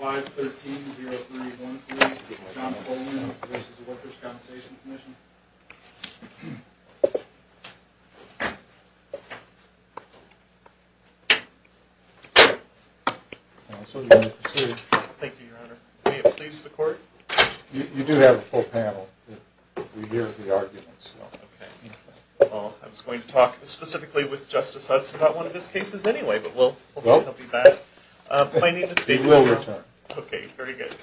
513-0313, John Holman, this is the Workers' Compensation Commission. Thank you, Your Honor. May it please the Court? You do have a full panel. We hear the arguments. Oh, okay. Well, I was going to talk specifically with Justice Hudson about one of his cases anyway, but we'll be back. He will return. Okay, very good.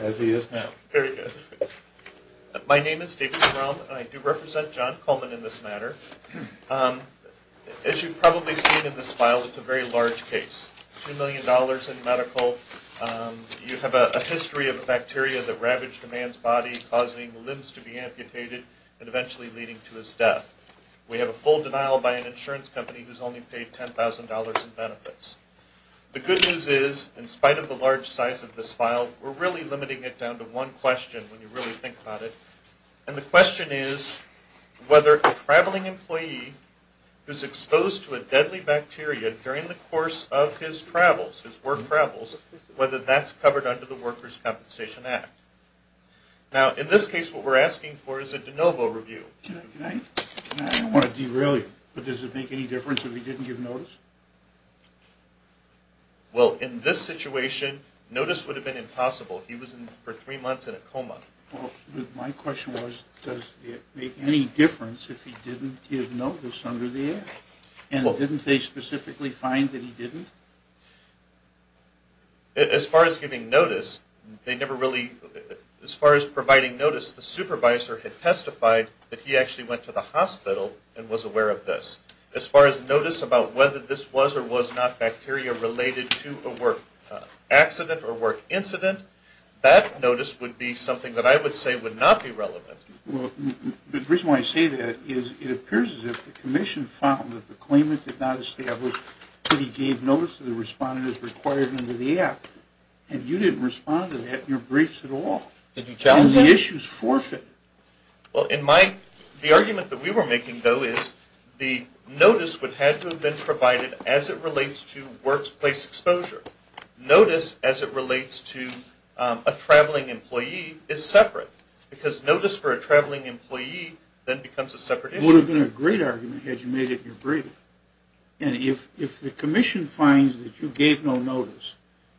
As he is now. Very good. My name is David Rom, and I do represent John Holman in this matter. As you've probably seen in this file, it's a very large case. Two million dollars in medical. You have a history of a bacteria that ravaged a man's body, causing limbs to be amputated, and eventually leading to his death. We have a full denial by an insurance company who's only paid $10,000 in benefits. The good news is, in spite of the large size of this file, we're really limiting it down to one question when you really think about it. And the question is whether a traveling employee who's exposed to a deadly bacteria during the course of his travels, his work travels, whether that's covered under the Workers' Compensation Act. Now, in this case, what we're asking for is a de novo review. I don't want to derail you, but does it make any difference if he didn't give notice? Well, in this situation, notice would have been impossible. He was for three months in a coma. Well, my question was, does it make any difference if he didn't give notice under the act? And didn't they specifically find that he didn't? As far as giving notice, they never really, as far as providing notice, the supervisor had testified that he actually went to the hospital and was aware of this. As far as notice about whether this was or was not bacteria related to a work accident or work incident, that notice would be something that I would say would not be relevant. Well, the reason why I say that is it appears as if the commission found that the claimant did not establish that he gave notice to the respondent as required under the act. And you didn't respond to that in your briefs at all. And the issue is forfeited. Well, the argument that we were making, though, is the notice would have to have been provided as it relates to workplace exposure. Notice as it relates to a traveling employee is separate. Because notice for a traveling employee then becomes a separate issue. It would have been a great argument had you made it in your brief. And if the commission finds that you gave no notice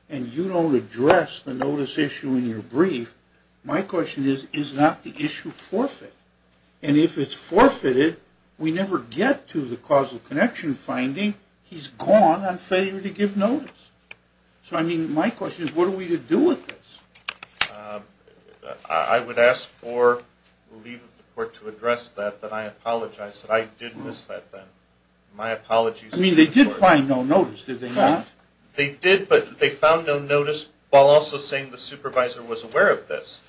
and you don't address the notice issue in your brief, my question is, is not the issue forfeited? And if it's forfeited, we never get to the causal connection finding. He's gone on failure to give notice. So, I mean, my question is, what are we to do with this? I would ask for the leave of the court to address that. But I apologize that I did miss that then. My apologies. I mean, they did find no notice, did they not? They did, but they found no notice while also saying the supervisor was aware of this.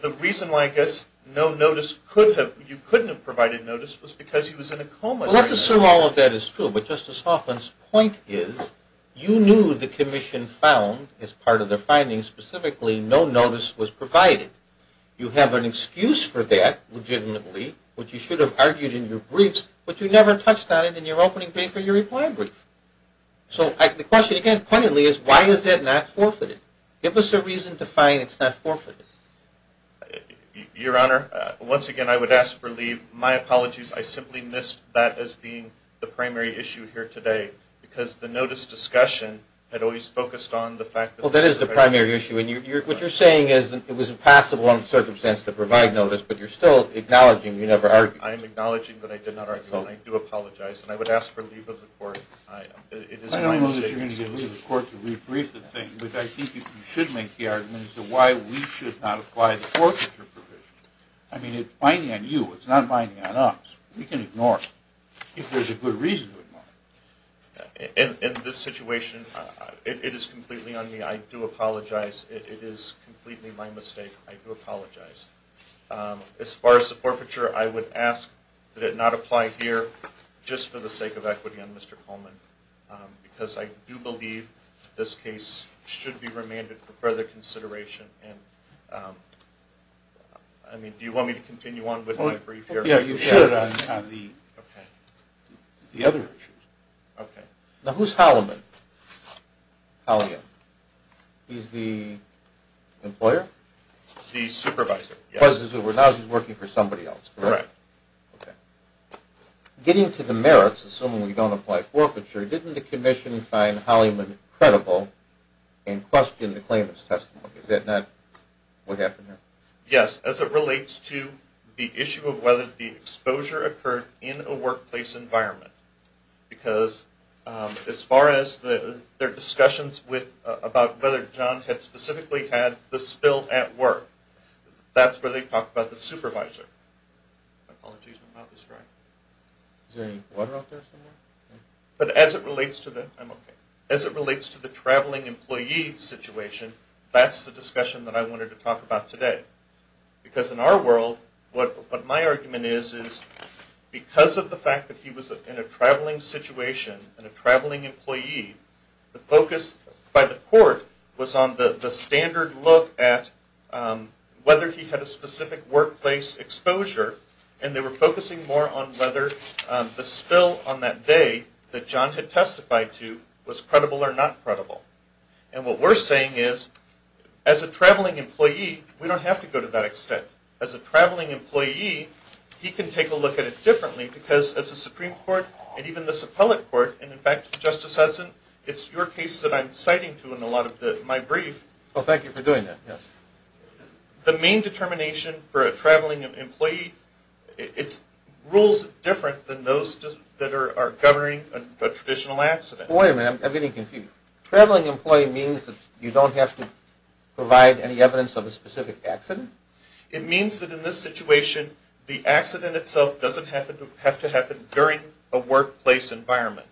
The reason why I guess no notice could have, you couldn't have provided notice was because he was in a coma. Well, let's assume all of that is true. But Justice Hoffman's point is, you knew the commission found, as part of their findings specifically, no notice was provided. You have an excuse for that, legitimately, which you should have argued in your briefs, but you never touched on it in your opening brief or your reply brief. So the question again, pointedly, is why is that not forfeited? Give us a reason to find it's not forfeited. Your Honor, once again, I would ask for leave. My apologies. I simply missed that as being the primary issue here today because the notice discussion had always focused on the fact that the supervisor Well, that is the primary issue, and what you're saying is it was a passable circumstance to provide notice, but you're still acknowledging you never argued. I am acknowledging, but I did not argue, and I do apologize. And I would ask for leave of the court. I don't know that you're going to get leave of the court to rebrief the thing, but I think you should make the argument as to why we should not apply the forfeiture provision. I mean, it's binding on you. It's not binding on us. We can ignore it if there's a good reason to ignore it. In this situation, it is completely on me. I do apologize. It is completely my mistake. I do apologize. As far as the forfeiture, I would ask that it not apply here just for the sake of equity on Mr. Coleman because I do believe this case should be remanded for further consideration. And, I mean, do you want me to continue on with my brief here? Yeah, you should. Okay. The other issues. Okay. Now, who's Holliman? Holliman. He's the employer? The supervisor, yes. Now he's working for somebody else, correct? Correct. Okay. Getting to the merits, assuming we don't apply forfeiture, didn't the commission find Holliman credible and question the claimant's testimony? Is that not what happened here? Yes. As it relates to the issue of whether the exposure occurred in a workplace environment because as far as their discussions about whether John had specifically had the spill at work, that's where they talked about the supervisor. My apologies. My mouth is dry. Is there any water out there somewhere? But as it relates to the traveling employee situation, that's the discussion that I wanted to talk about today. Because in our world, what my argument is, is because of the fact that he was in a traveling situation and a traveling employee, the focus by the court was on the standard look at whether he had a specific workplace exposure and they were focusing more on whether the spill on that day that John had testified to was credible or not credible. And what we're saying is as a traveling employee, we don't have to go to that extent. As a traveling employee, he can take a look at it differently because as a Supreme Court and even this appellate court, and in fact, Justice Hudson, it's your case that I'm citing to in a lot of my brief. Well, thank you for doing that. The main determination for a traveling employee, it's rules different than those that are governing a traditional accident. Wait a minute. I'm getting confused. Traveling employee means that you don't have to provide any evidence of a specific accident? It means that in this situation, the accident itself doesn't have to happen during a workplace environment.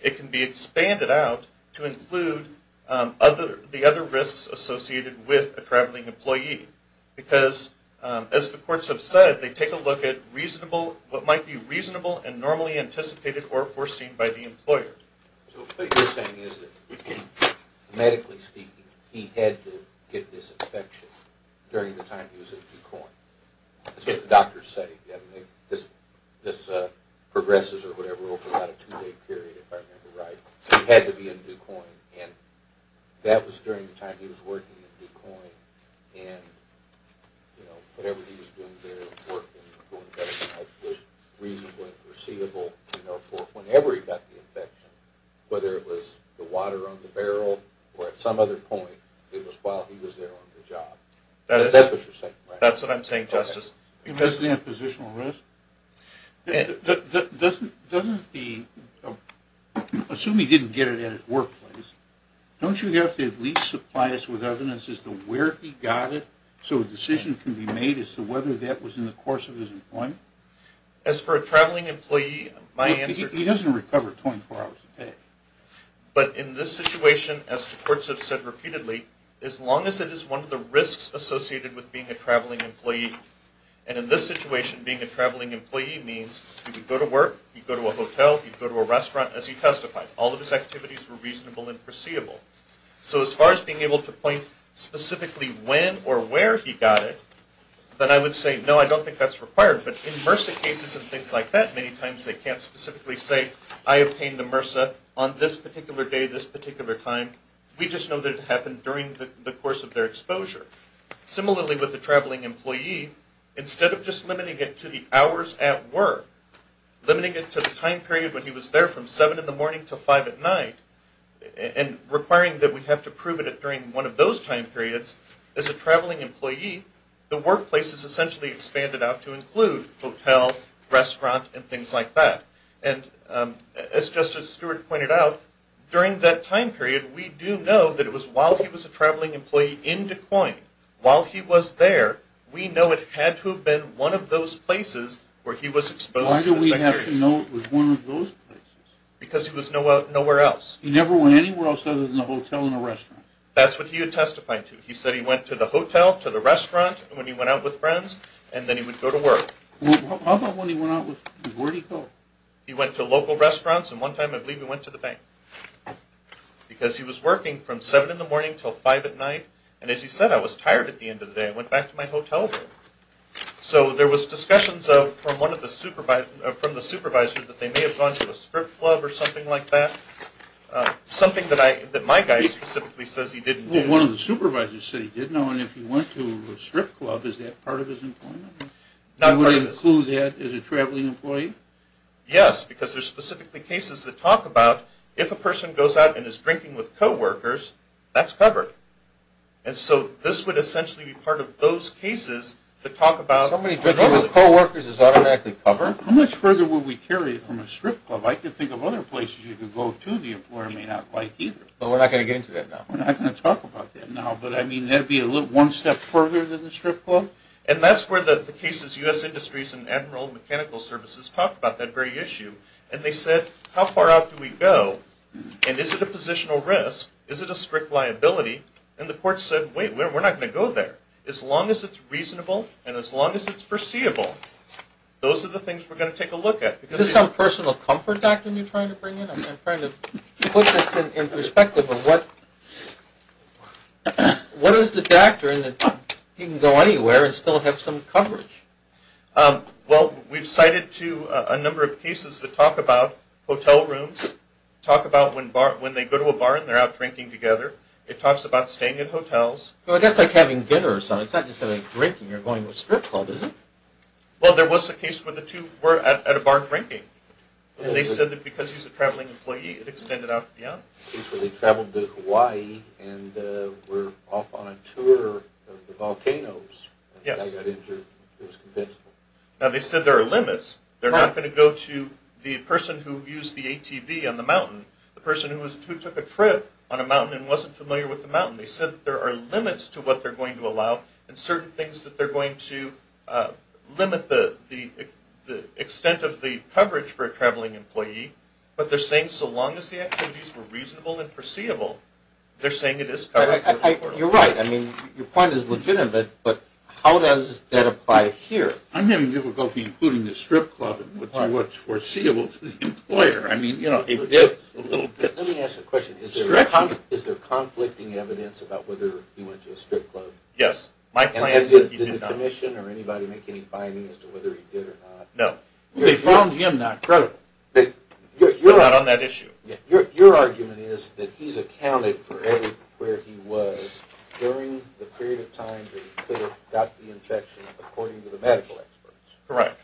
It can be expanded out to include the other risks associated with a traveling employee because as the courts have said, they take a look at reasonable, what might be reasonable and normally anticipated or foreseen by the employer. So what you're saying is that medically speaking, he had to get this infection during the time he was at DuQuoin. That's what the doctors said. This progresses over a two-day period, if I remember right. He had to be in DuQuoin, and that was during the time he was working in DuQuoin. And, you know, whatever he was doing there was reasonable and foreseeable. You know, whenever he got the infection, whether it was the water on the barrel or at some other point, it was while he was there on the job. That's what you're saying, right? That's what I'm saying, Justice. And what's the oppositional risk? Assuming he didn't get it at his workplace, don't you have to at least supply us with evidence as to where he got it so a decision can be made as to whether that was in the course of his employment? As for a traveling employee, my answer is… He doesn't recover 24 hours a day. But in this situation, as the courts have said repeatedly, as long as it is one of the risks associated with being a traveling employee, and in this situation being a traveling employee means he could go to work, he could go to a hotel, he could go to a restaurant as he testified. All of his activities were reasonable and foreseeable. So as far as being able to point specifically when or where he got it, then I would say, no, I don't think that's required. But in MRSA cases and things like that, many times they can't specifically say, I obtained the MRSA on this particular day, this particular time. We just know that it happened during the course of their exposure. Similarly with the traveling employee, instead of just limiting it to the hours at work, limiting it to the time period when he was there from 7 in the morning to 5 at night, and requiring that we have to prove it during one of those time periods, as a traveling employee, the workplace is essentially expanded out to include hotel, restaurant, and things like that. And as Justice Stewart pointed out, during that time period, we do know that it was while he was a traveling employee in Des Moines, while he was there, we know it had to have been one of those places where he was exposed to this bacteria. Why do we have to know it was one of those places? Because he was nowhere else. He never went anywhere else other than a hotel and a restaurant? That's what he had testified to. He said he went to the hotel, to the restaurant when he went out with friends, and then he would go to work. How about when he went out with friends? Where did he go? He went to local restaurants, and one time I believe he went to the bank. Because he was working from 7 in the morning until 5 at night, and as he said, I was tired at the end of the day. I went back to my hotel room. So there was discussions from one of the supervisors that they may have gone to a strip club or something like that, something that my guy specifically says he didn't do. Well, one of the supervisors said he didn't, and if he went to a strip club, is that part of his employment? Would it include that as a traveling employee? Yes, because there's specifically cases that talk about if a person goes out and is drinking with coworkers, that's covered. And so this would essentially be part of those cases that talk about... Somebody drinking with coworkers is automatically covered? How much further would we carry it from a strip club? I can think of other places you could go to the employer may not like either. But we're not going to get into that now. We're not going to talk about that now, but I mean that would be one step further than the strip club? And that's where the cases, U.S. Industries and Admiral Mechanical Services talked about that very issue. And they said, how far out do we go, and is it a positional risk? Is it a strict liability? And the court said, wait, we're not going to go there. As long as it's reasonable and as long as it's foreseeable, those are the things we're going to take a look at. Is this some personal comfort doctrine you're trying to bring in? I'm trying to put this in perspective of what is the doctrine that you can go anywhere and still have some coverage? Well, we've cited a number of cases that talk about hotel rooms, talk about when they go to a bar and they're out drinking together. It talks about staying at hotels. Well, that's like having dinner or something. It's not just having a drink and you're going to a strip club, is it? Well, there was a case where the two were at a bar drinking. And they said that because he's a traveling employee, it extended out beyond. There was a case where they traveled to Hawaii and were off on a tour of the volcanoes. Yes. And they got injured. It was convincing. Now, they said there are limits. They're not going to go to the person who used the ATV on the mountain, the person who took a trip on a mountain and wasn't familiar with the mountain. They said there are limits to what they're going to allow and certain things that they're going to limit the extent of the coverage for a traveling employee. But they're saying so long as the activities were reasonable and foreseeable, they're saying it is covered. You're right. I mean, your point is legitimate, but how does that apply here? I'm having difficulty including the strip club into what's foreseeable to the employer. I mean, you know, it gets a little bit stretchy. Let me ask a question. Is there conflicting evidence about whether he went to a strip club? Yes. My plan is that he did not. Did the commission or anybody make any findings as to whether he did or not? No. They found him not credible. You're not on that issue. Your argument is that he's accounted for everywhere he was during the period of time that he could have got the infection according to the medical experts. Correct.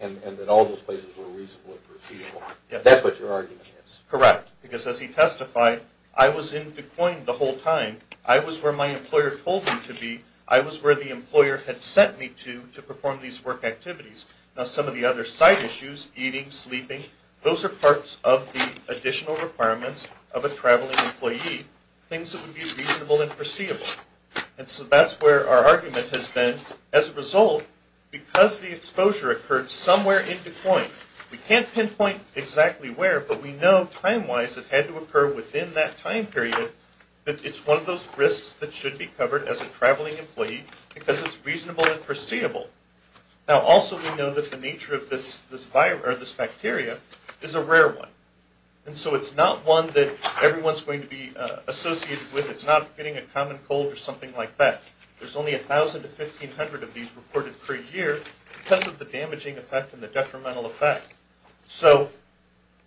And that all those places were reasonable and foreseeable. That's what your argument is. Correct. Because as he testified, I was in Des Moines the whole time. I was where my employer told me to be. I was where the employer had sent me to to perform these work activities. Now, some of the other side issues, eating, sleeping, those are parts of the additional requirements of a traveling employee, things that would be reasonable and foreseeable. And so that's where our argument has been. As a result, because the exposure occurred somewhere in Des Moines, we can't pinpoint exactly where, but we know time-wise it had to occur within that time period that it's one of those risks that should be covered as a traveling employee because it's reasonable and foreseeable. Now, also we know that the nature of this bacteria is a rare one. And so it's not one that everyone's going to be associated with. It's not getting a common cold or something like that. There's only 1,000 to 1,500 of these reported per year because of the damaging effect and the detrimental effect. So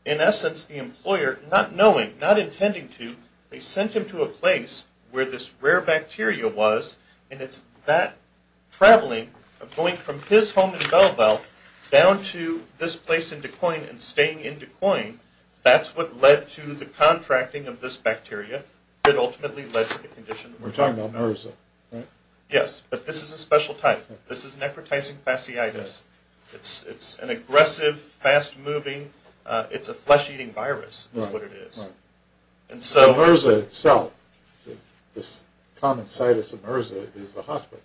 in essence, the employer, not knowing, not intending to, they sent him to a place where this rare bacteria was, and it's that traveling of going from his home in Belleville down to this place in Des Moines and staying in Des Moines, that's what led to the contracting of this bacteria. It ultimately led to the condition we're talking about. We're talking about MRSA, right? Yes, but this is a special type. This is necrotizing fasciitis. It's an aggressive, fast-moving, it's a flesh-eating virus is what it is. Right, right. The MRSA itself, this common situs of MRSA is the hospital.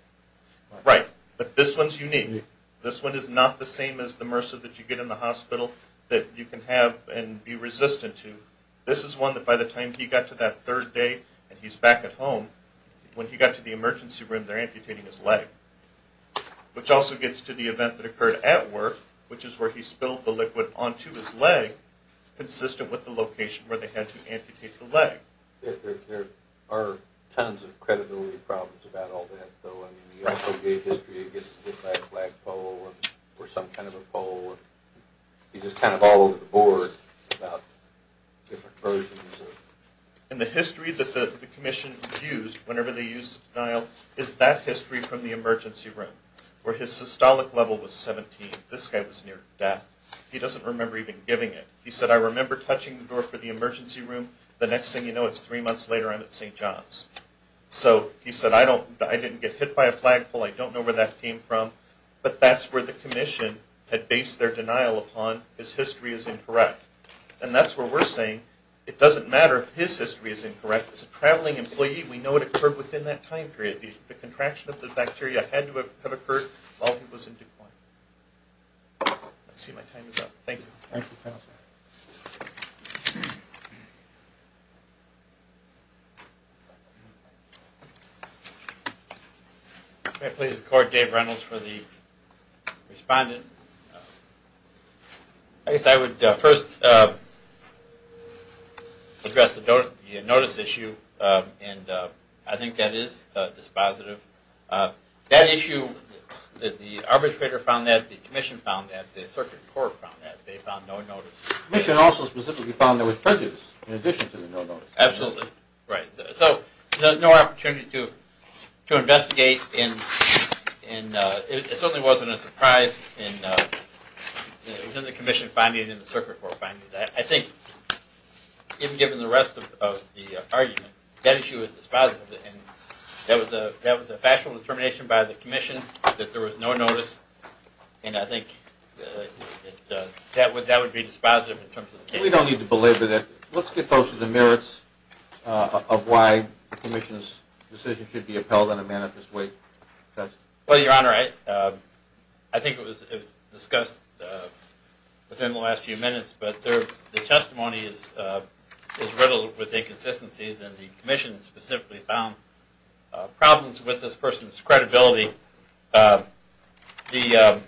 Right, but this one's unique. This one is not the same as the MRSA that you get in the hospital that you can have and be resistant to. This is one that by the time he got to that third day and he's back at home, when he got to the emergency room, they're amputating his leg, which also gets to the event that occurred at work, which is where he spilled the liquid onto his leg, consistent with the location where they had to amputate the leg. There are tons of credibility problems about all that. So, I mean, he also gave history of getting hit by a flagpole or some kind of a pole. He's just kind of all over the board about different versions of it. And the history that the commission used whenever they used denial is that history from the emergency room where his systolic level was 17. This guy was near death. He doesn't remember even giving it. He said, I remember touching the door for the emergency room. The next thing you know, it's three months later, I'm at St. John's. So he said, I didn't get hit by a flagpole. I don't know where that came from. But that's where the commission had based their denial upon, his history is incorrect. And that's where we're saying it doesn't matter if his history is incorrect. As a traveling employee, we know it occurred within that time period. The contraction of the bacteria had to have occurred while he was in decline. I see my time is up. Thank you. Thank you, Counselor. Thank you. May I please record Dave Reynolds for the respondent? I guess I would first address the notice issue. And I think that is dispositive. That issue that the arbitrator found that, the commission found that, the circuit court found that, they found no notice. The commission also specifically found there was prejudice in addition to the no notice. Absolutely. Right. So no opportunity to investigate. And it certainly wasn't a surprise in the commission finding and the circuit court finding. I think, even given the rest of the argument, that issue is dispositive. And that was a factual determination by the commission that there was no notice. And I think that would be dispositive in terms of the case. We don't need to belabor that. Let's get closer to the merits of why the commission's decision should be upheld on a manifest way test. Well, Your Honor, I think it was discussed within the last few minutes, but the testimony is riddled with inconsistencies. And the commission specifically found problems with this person's credibility. The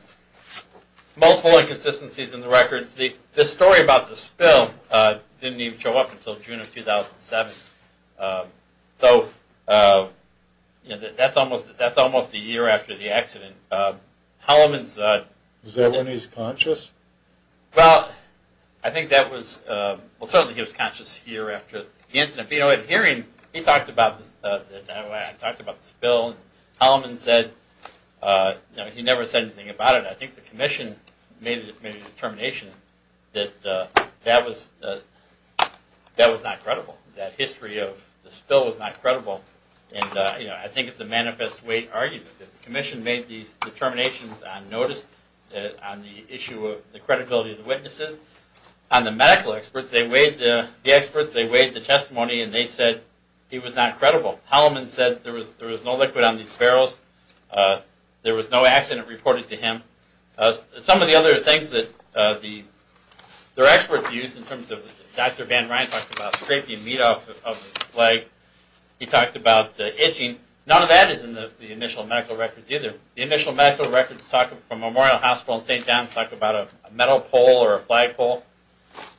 multiple inconsistencies in the records. The story about the spill didn't even show up until June of 2007. So that's almost a year after the accident. Was that when he was conscious? Well, I think that was, well certainly he was conscious a year after the incident. But hearing, he talked about the spill. Holloman said, he never said anything about it. I think the commission made a determination that that was not credible. That history of the spill was not credible. And I think it's a manifest way argument. The commission made these determinations on notice, on the issue of the credibility of the witnesses. On the medical experts, they weighed the testimony and they said he was not credible. Holloman said there was no liquid on these barrels. There was no accident reported to him. Some of the other things that the experts used in terms of, Dr. Van Ryan talked about scraping meat off of his leg. He talked about itching. None of that is in the initial medical records either. The initial medical records from Memorial Hospital in St. John's talked about a metal pole or a flagpole.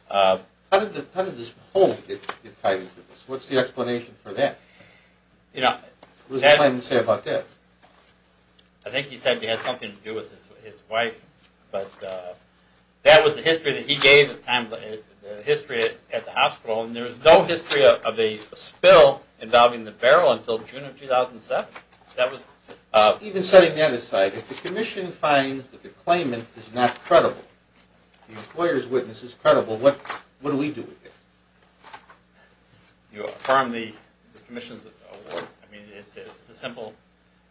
How did this pole get tied into this? What's the explanation for that? What does the claimant say about that? I think he said it had something to do with his wife. But that was the history that he gave at the time, the history at the hospital. And there was no history of a spill involving the barrel until June of 2007. Even setting that aside, if the commission finds that the claimant is not credible, the employer's witness is credible, what do we do with it? You affirm the commission's award. It's a simple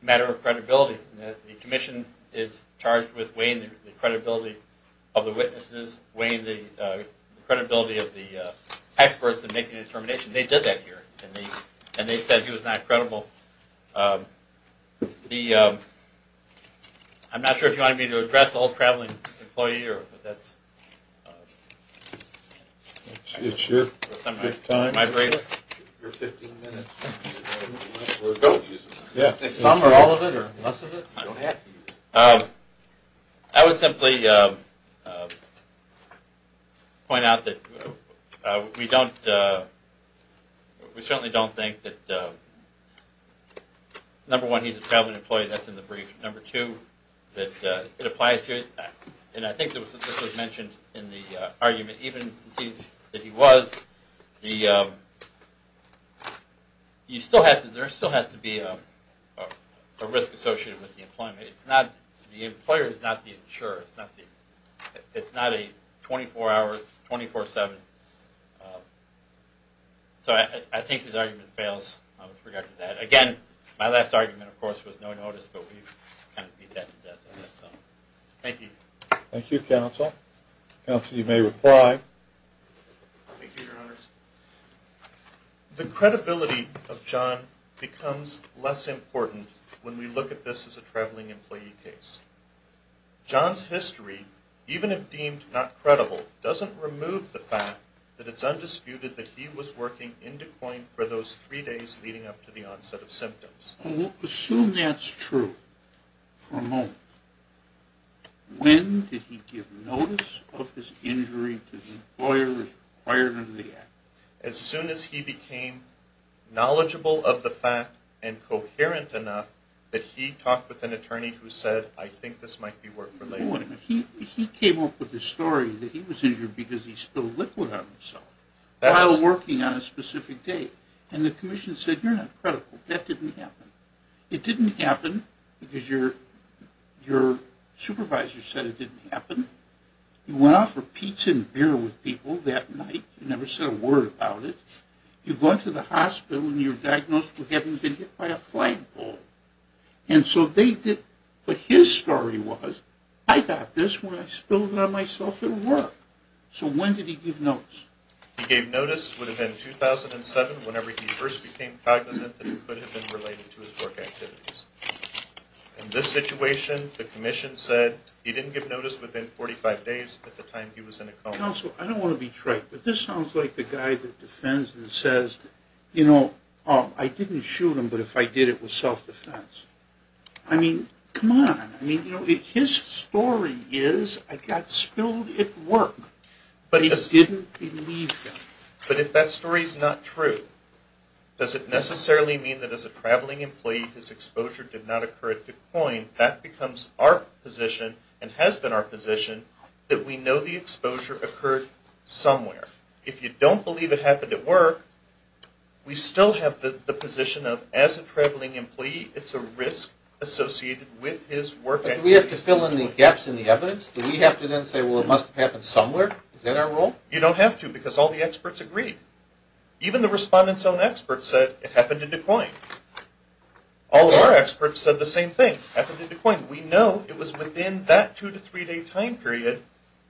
matter of credibility. The commission is charged with weighing the credibility of the witnesses, weighing the credibility of the experts in making a determination. They did that here, and they said he was not credible. I'm not sure if you wanted me to address the old traveling employee. It's your time. Your 15 minutes. Some or all of it or less of it? I would simply point out that we certainly don't think that, number one, he's a traveling employee. That's in the brief. Number two, it applies here. And I think this was mentioned in the argument. Even to see that he was, there still has to be a risk associated with the employment. The employer is not the insurer. It's not a 24-hour, 24-7. So I think his argument fails with regard to that. Again, my last argument, of course, was no notice, but we kind of beat that to death on this. Thank you. Thank you, counsel. Counsel, you may reply. Thank you, Your Honors. The credibility of John becomes less important when we look at this as a traveling employee case. John's history, even if deemed not credible, doesn't remove the fact that it's undisputed that he was working in DuPont for those three days leading up to the onset of symptoms. Assume that's true for a moment. When did he give notice of his injury to the employer required under the Act? As soon as he became knowledgeable of the fact and coherent enough that he talked with an attorney who said, I think this might be work for labor. He came up with the story that he was injured because he spilled liquid on himself while working on a specific day. And the commission said, you're not credible. That didn't happen. It didn't happen because your supervisor said it didn't happen. You went out for pizza and beer with people that night. You never said a word about it. You go into the hospital and you're diagnosed with having been hit by a flagpole. But his story was, I got this when I spilled it on myself at work. So when did he give notice? He gave notice, would have been 2007, whenever he first became cognizant that it could have been related to his work activities. In this situation, the commission said he didn't give notice within 45 days at the time he was in a coma. Counsel, I don't want to be trite, but this sounds like the guy that defends and says, I didn't shoot him, but if I did, it was self-defense. I mean, come on. His story is, I got spilled at work, but he didn't believe them. But if that story is not true, does it necessarily mean that as a traveling employee, his exposure did not occur at the coin? That becomes our position, and has been our position, that we know the exposure occurred somewhere. If you don't believe it happened at work, we still have the position of, as a traveling employee, it's a risk associated with his work activities. But do we have to fill in the gaps in the evidence? Do we have to then say, well, it must have happened somewhere? Is that our role? You don't have to, because all the experts agree. Even the respondent's own experts said it happened at the coin. All of our experts said the same thing. It happened at the coin. We know it was within that two- to three-day time period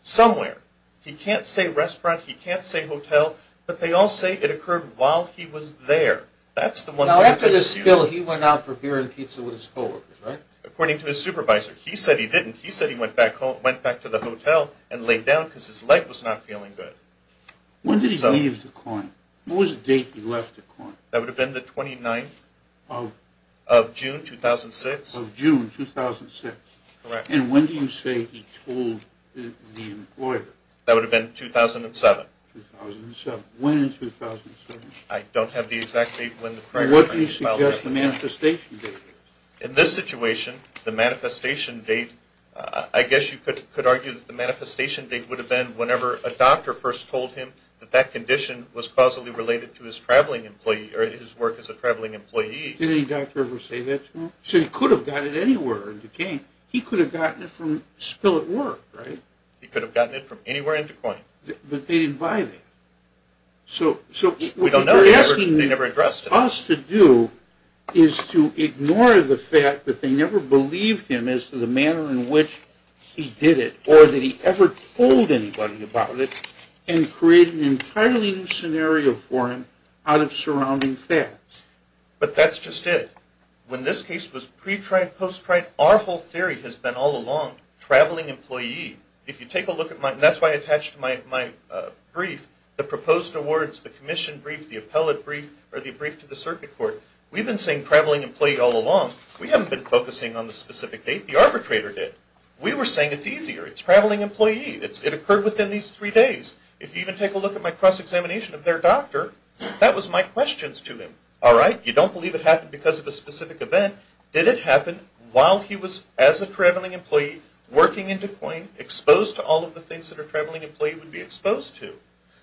somewhere. He can't say restaurant. He can't say hotel. But they all say it occurred while he was there. That's the one thing. Now, after the spill, he went out for beer and pizza with his co-workers, right? According to his supervisor. He said he didn't. He said he went back to the hotel and laid down because his leg was not feeling good. When did he leave the coin? What was the date he left the coin? That would have been the 29th of June 2006. Of June 2006. Correct. And when do you say he told the employer? That would have been 2007. 2007. When in 2007? I don't have the exact date. What do you suggest the manifestation date is? In this situation, the manifestation date, I guess you could argue that the manifestation date would have been whenever a doctor first told him that that condition was causally related to his work as a traveling employee. Did any doctor ever say that to him? He said he could have gotten it anywhere in Duquesne. He could have gotten it from spill at work, right? He could have gotten it from anywhere in Duquesne. But they didn't buy it. So what they're asking us to do is to ignore the fact that they never believed him as to the manner in which he did it or that he ever told anybody about it and create an entirely new scenario for him out of surrounding facts. But that's just it. When this case was pre-tried, post-tried, our whole theory has been all along traveling employee. If you take a look at my, and that's why I attached my brief, the proposed awards, the commission brief, the appellate brief, or the brief to the circuit court, we've been saying traveling employee all along. We haven't been focusing on the specific date. The arbitrator did. We were saying it's easier. It's traveling employee. It occurred within these three days. If you even take a look at my cross-examination of their doctor, that was my questions to him. All right, you don't believe it happened because of a specific event. Did it happen while he was, as a traveling employee, working in Duquesne, exposed to all of the things that a traveling employee would be exposed to?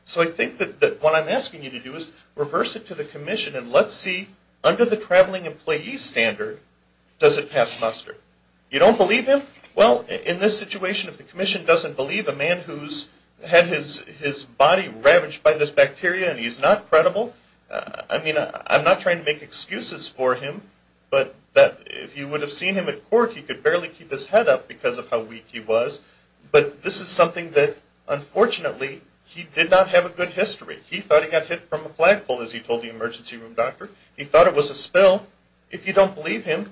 So I think that what I'm asking you to do is reverse it to the commission, and let's see, under the traveling employee standard, does it pass muster? You don't believe him? Well, in this situation, if the commission doesn't believe a man who's had his body ravaged by this bacteria and he's not credible, I mean, I'm not trying to make excuses for him, but if you would have seen him at court, he could barely keep his head up because of how weak he was. But this is something that, unfortunately, he did not have a good history. He thought he got hit from a flagpole, as he told the emergency room doctor. He thought it was a spill. If you don't believe him,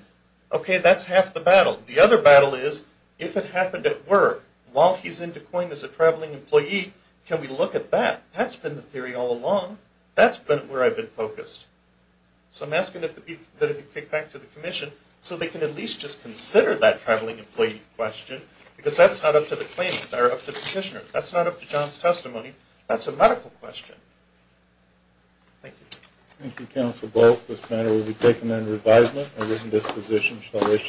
okay, that's half the battle. The other battle is if it happened at work while he's in Duquesne as a traveling employee, can we look at that? That's been the theory all along. That's been where I've been focused. So I'm asking that it be kicked back to the commission so they can at least just consider that traveling employee question because that's not up to the claimant or up to the petitioner. That's not up to John's testimony. That's a medical question. Thank you. Thank you, Counsel Bolts. This matter will be taken under advisement. Our written disposition shall issue.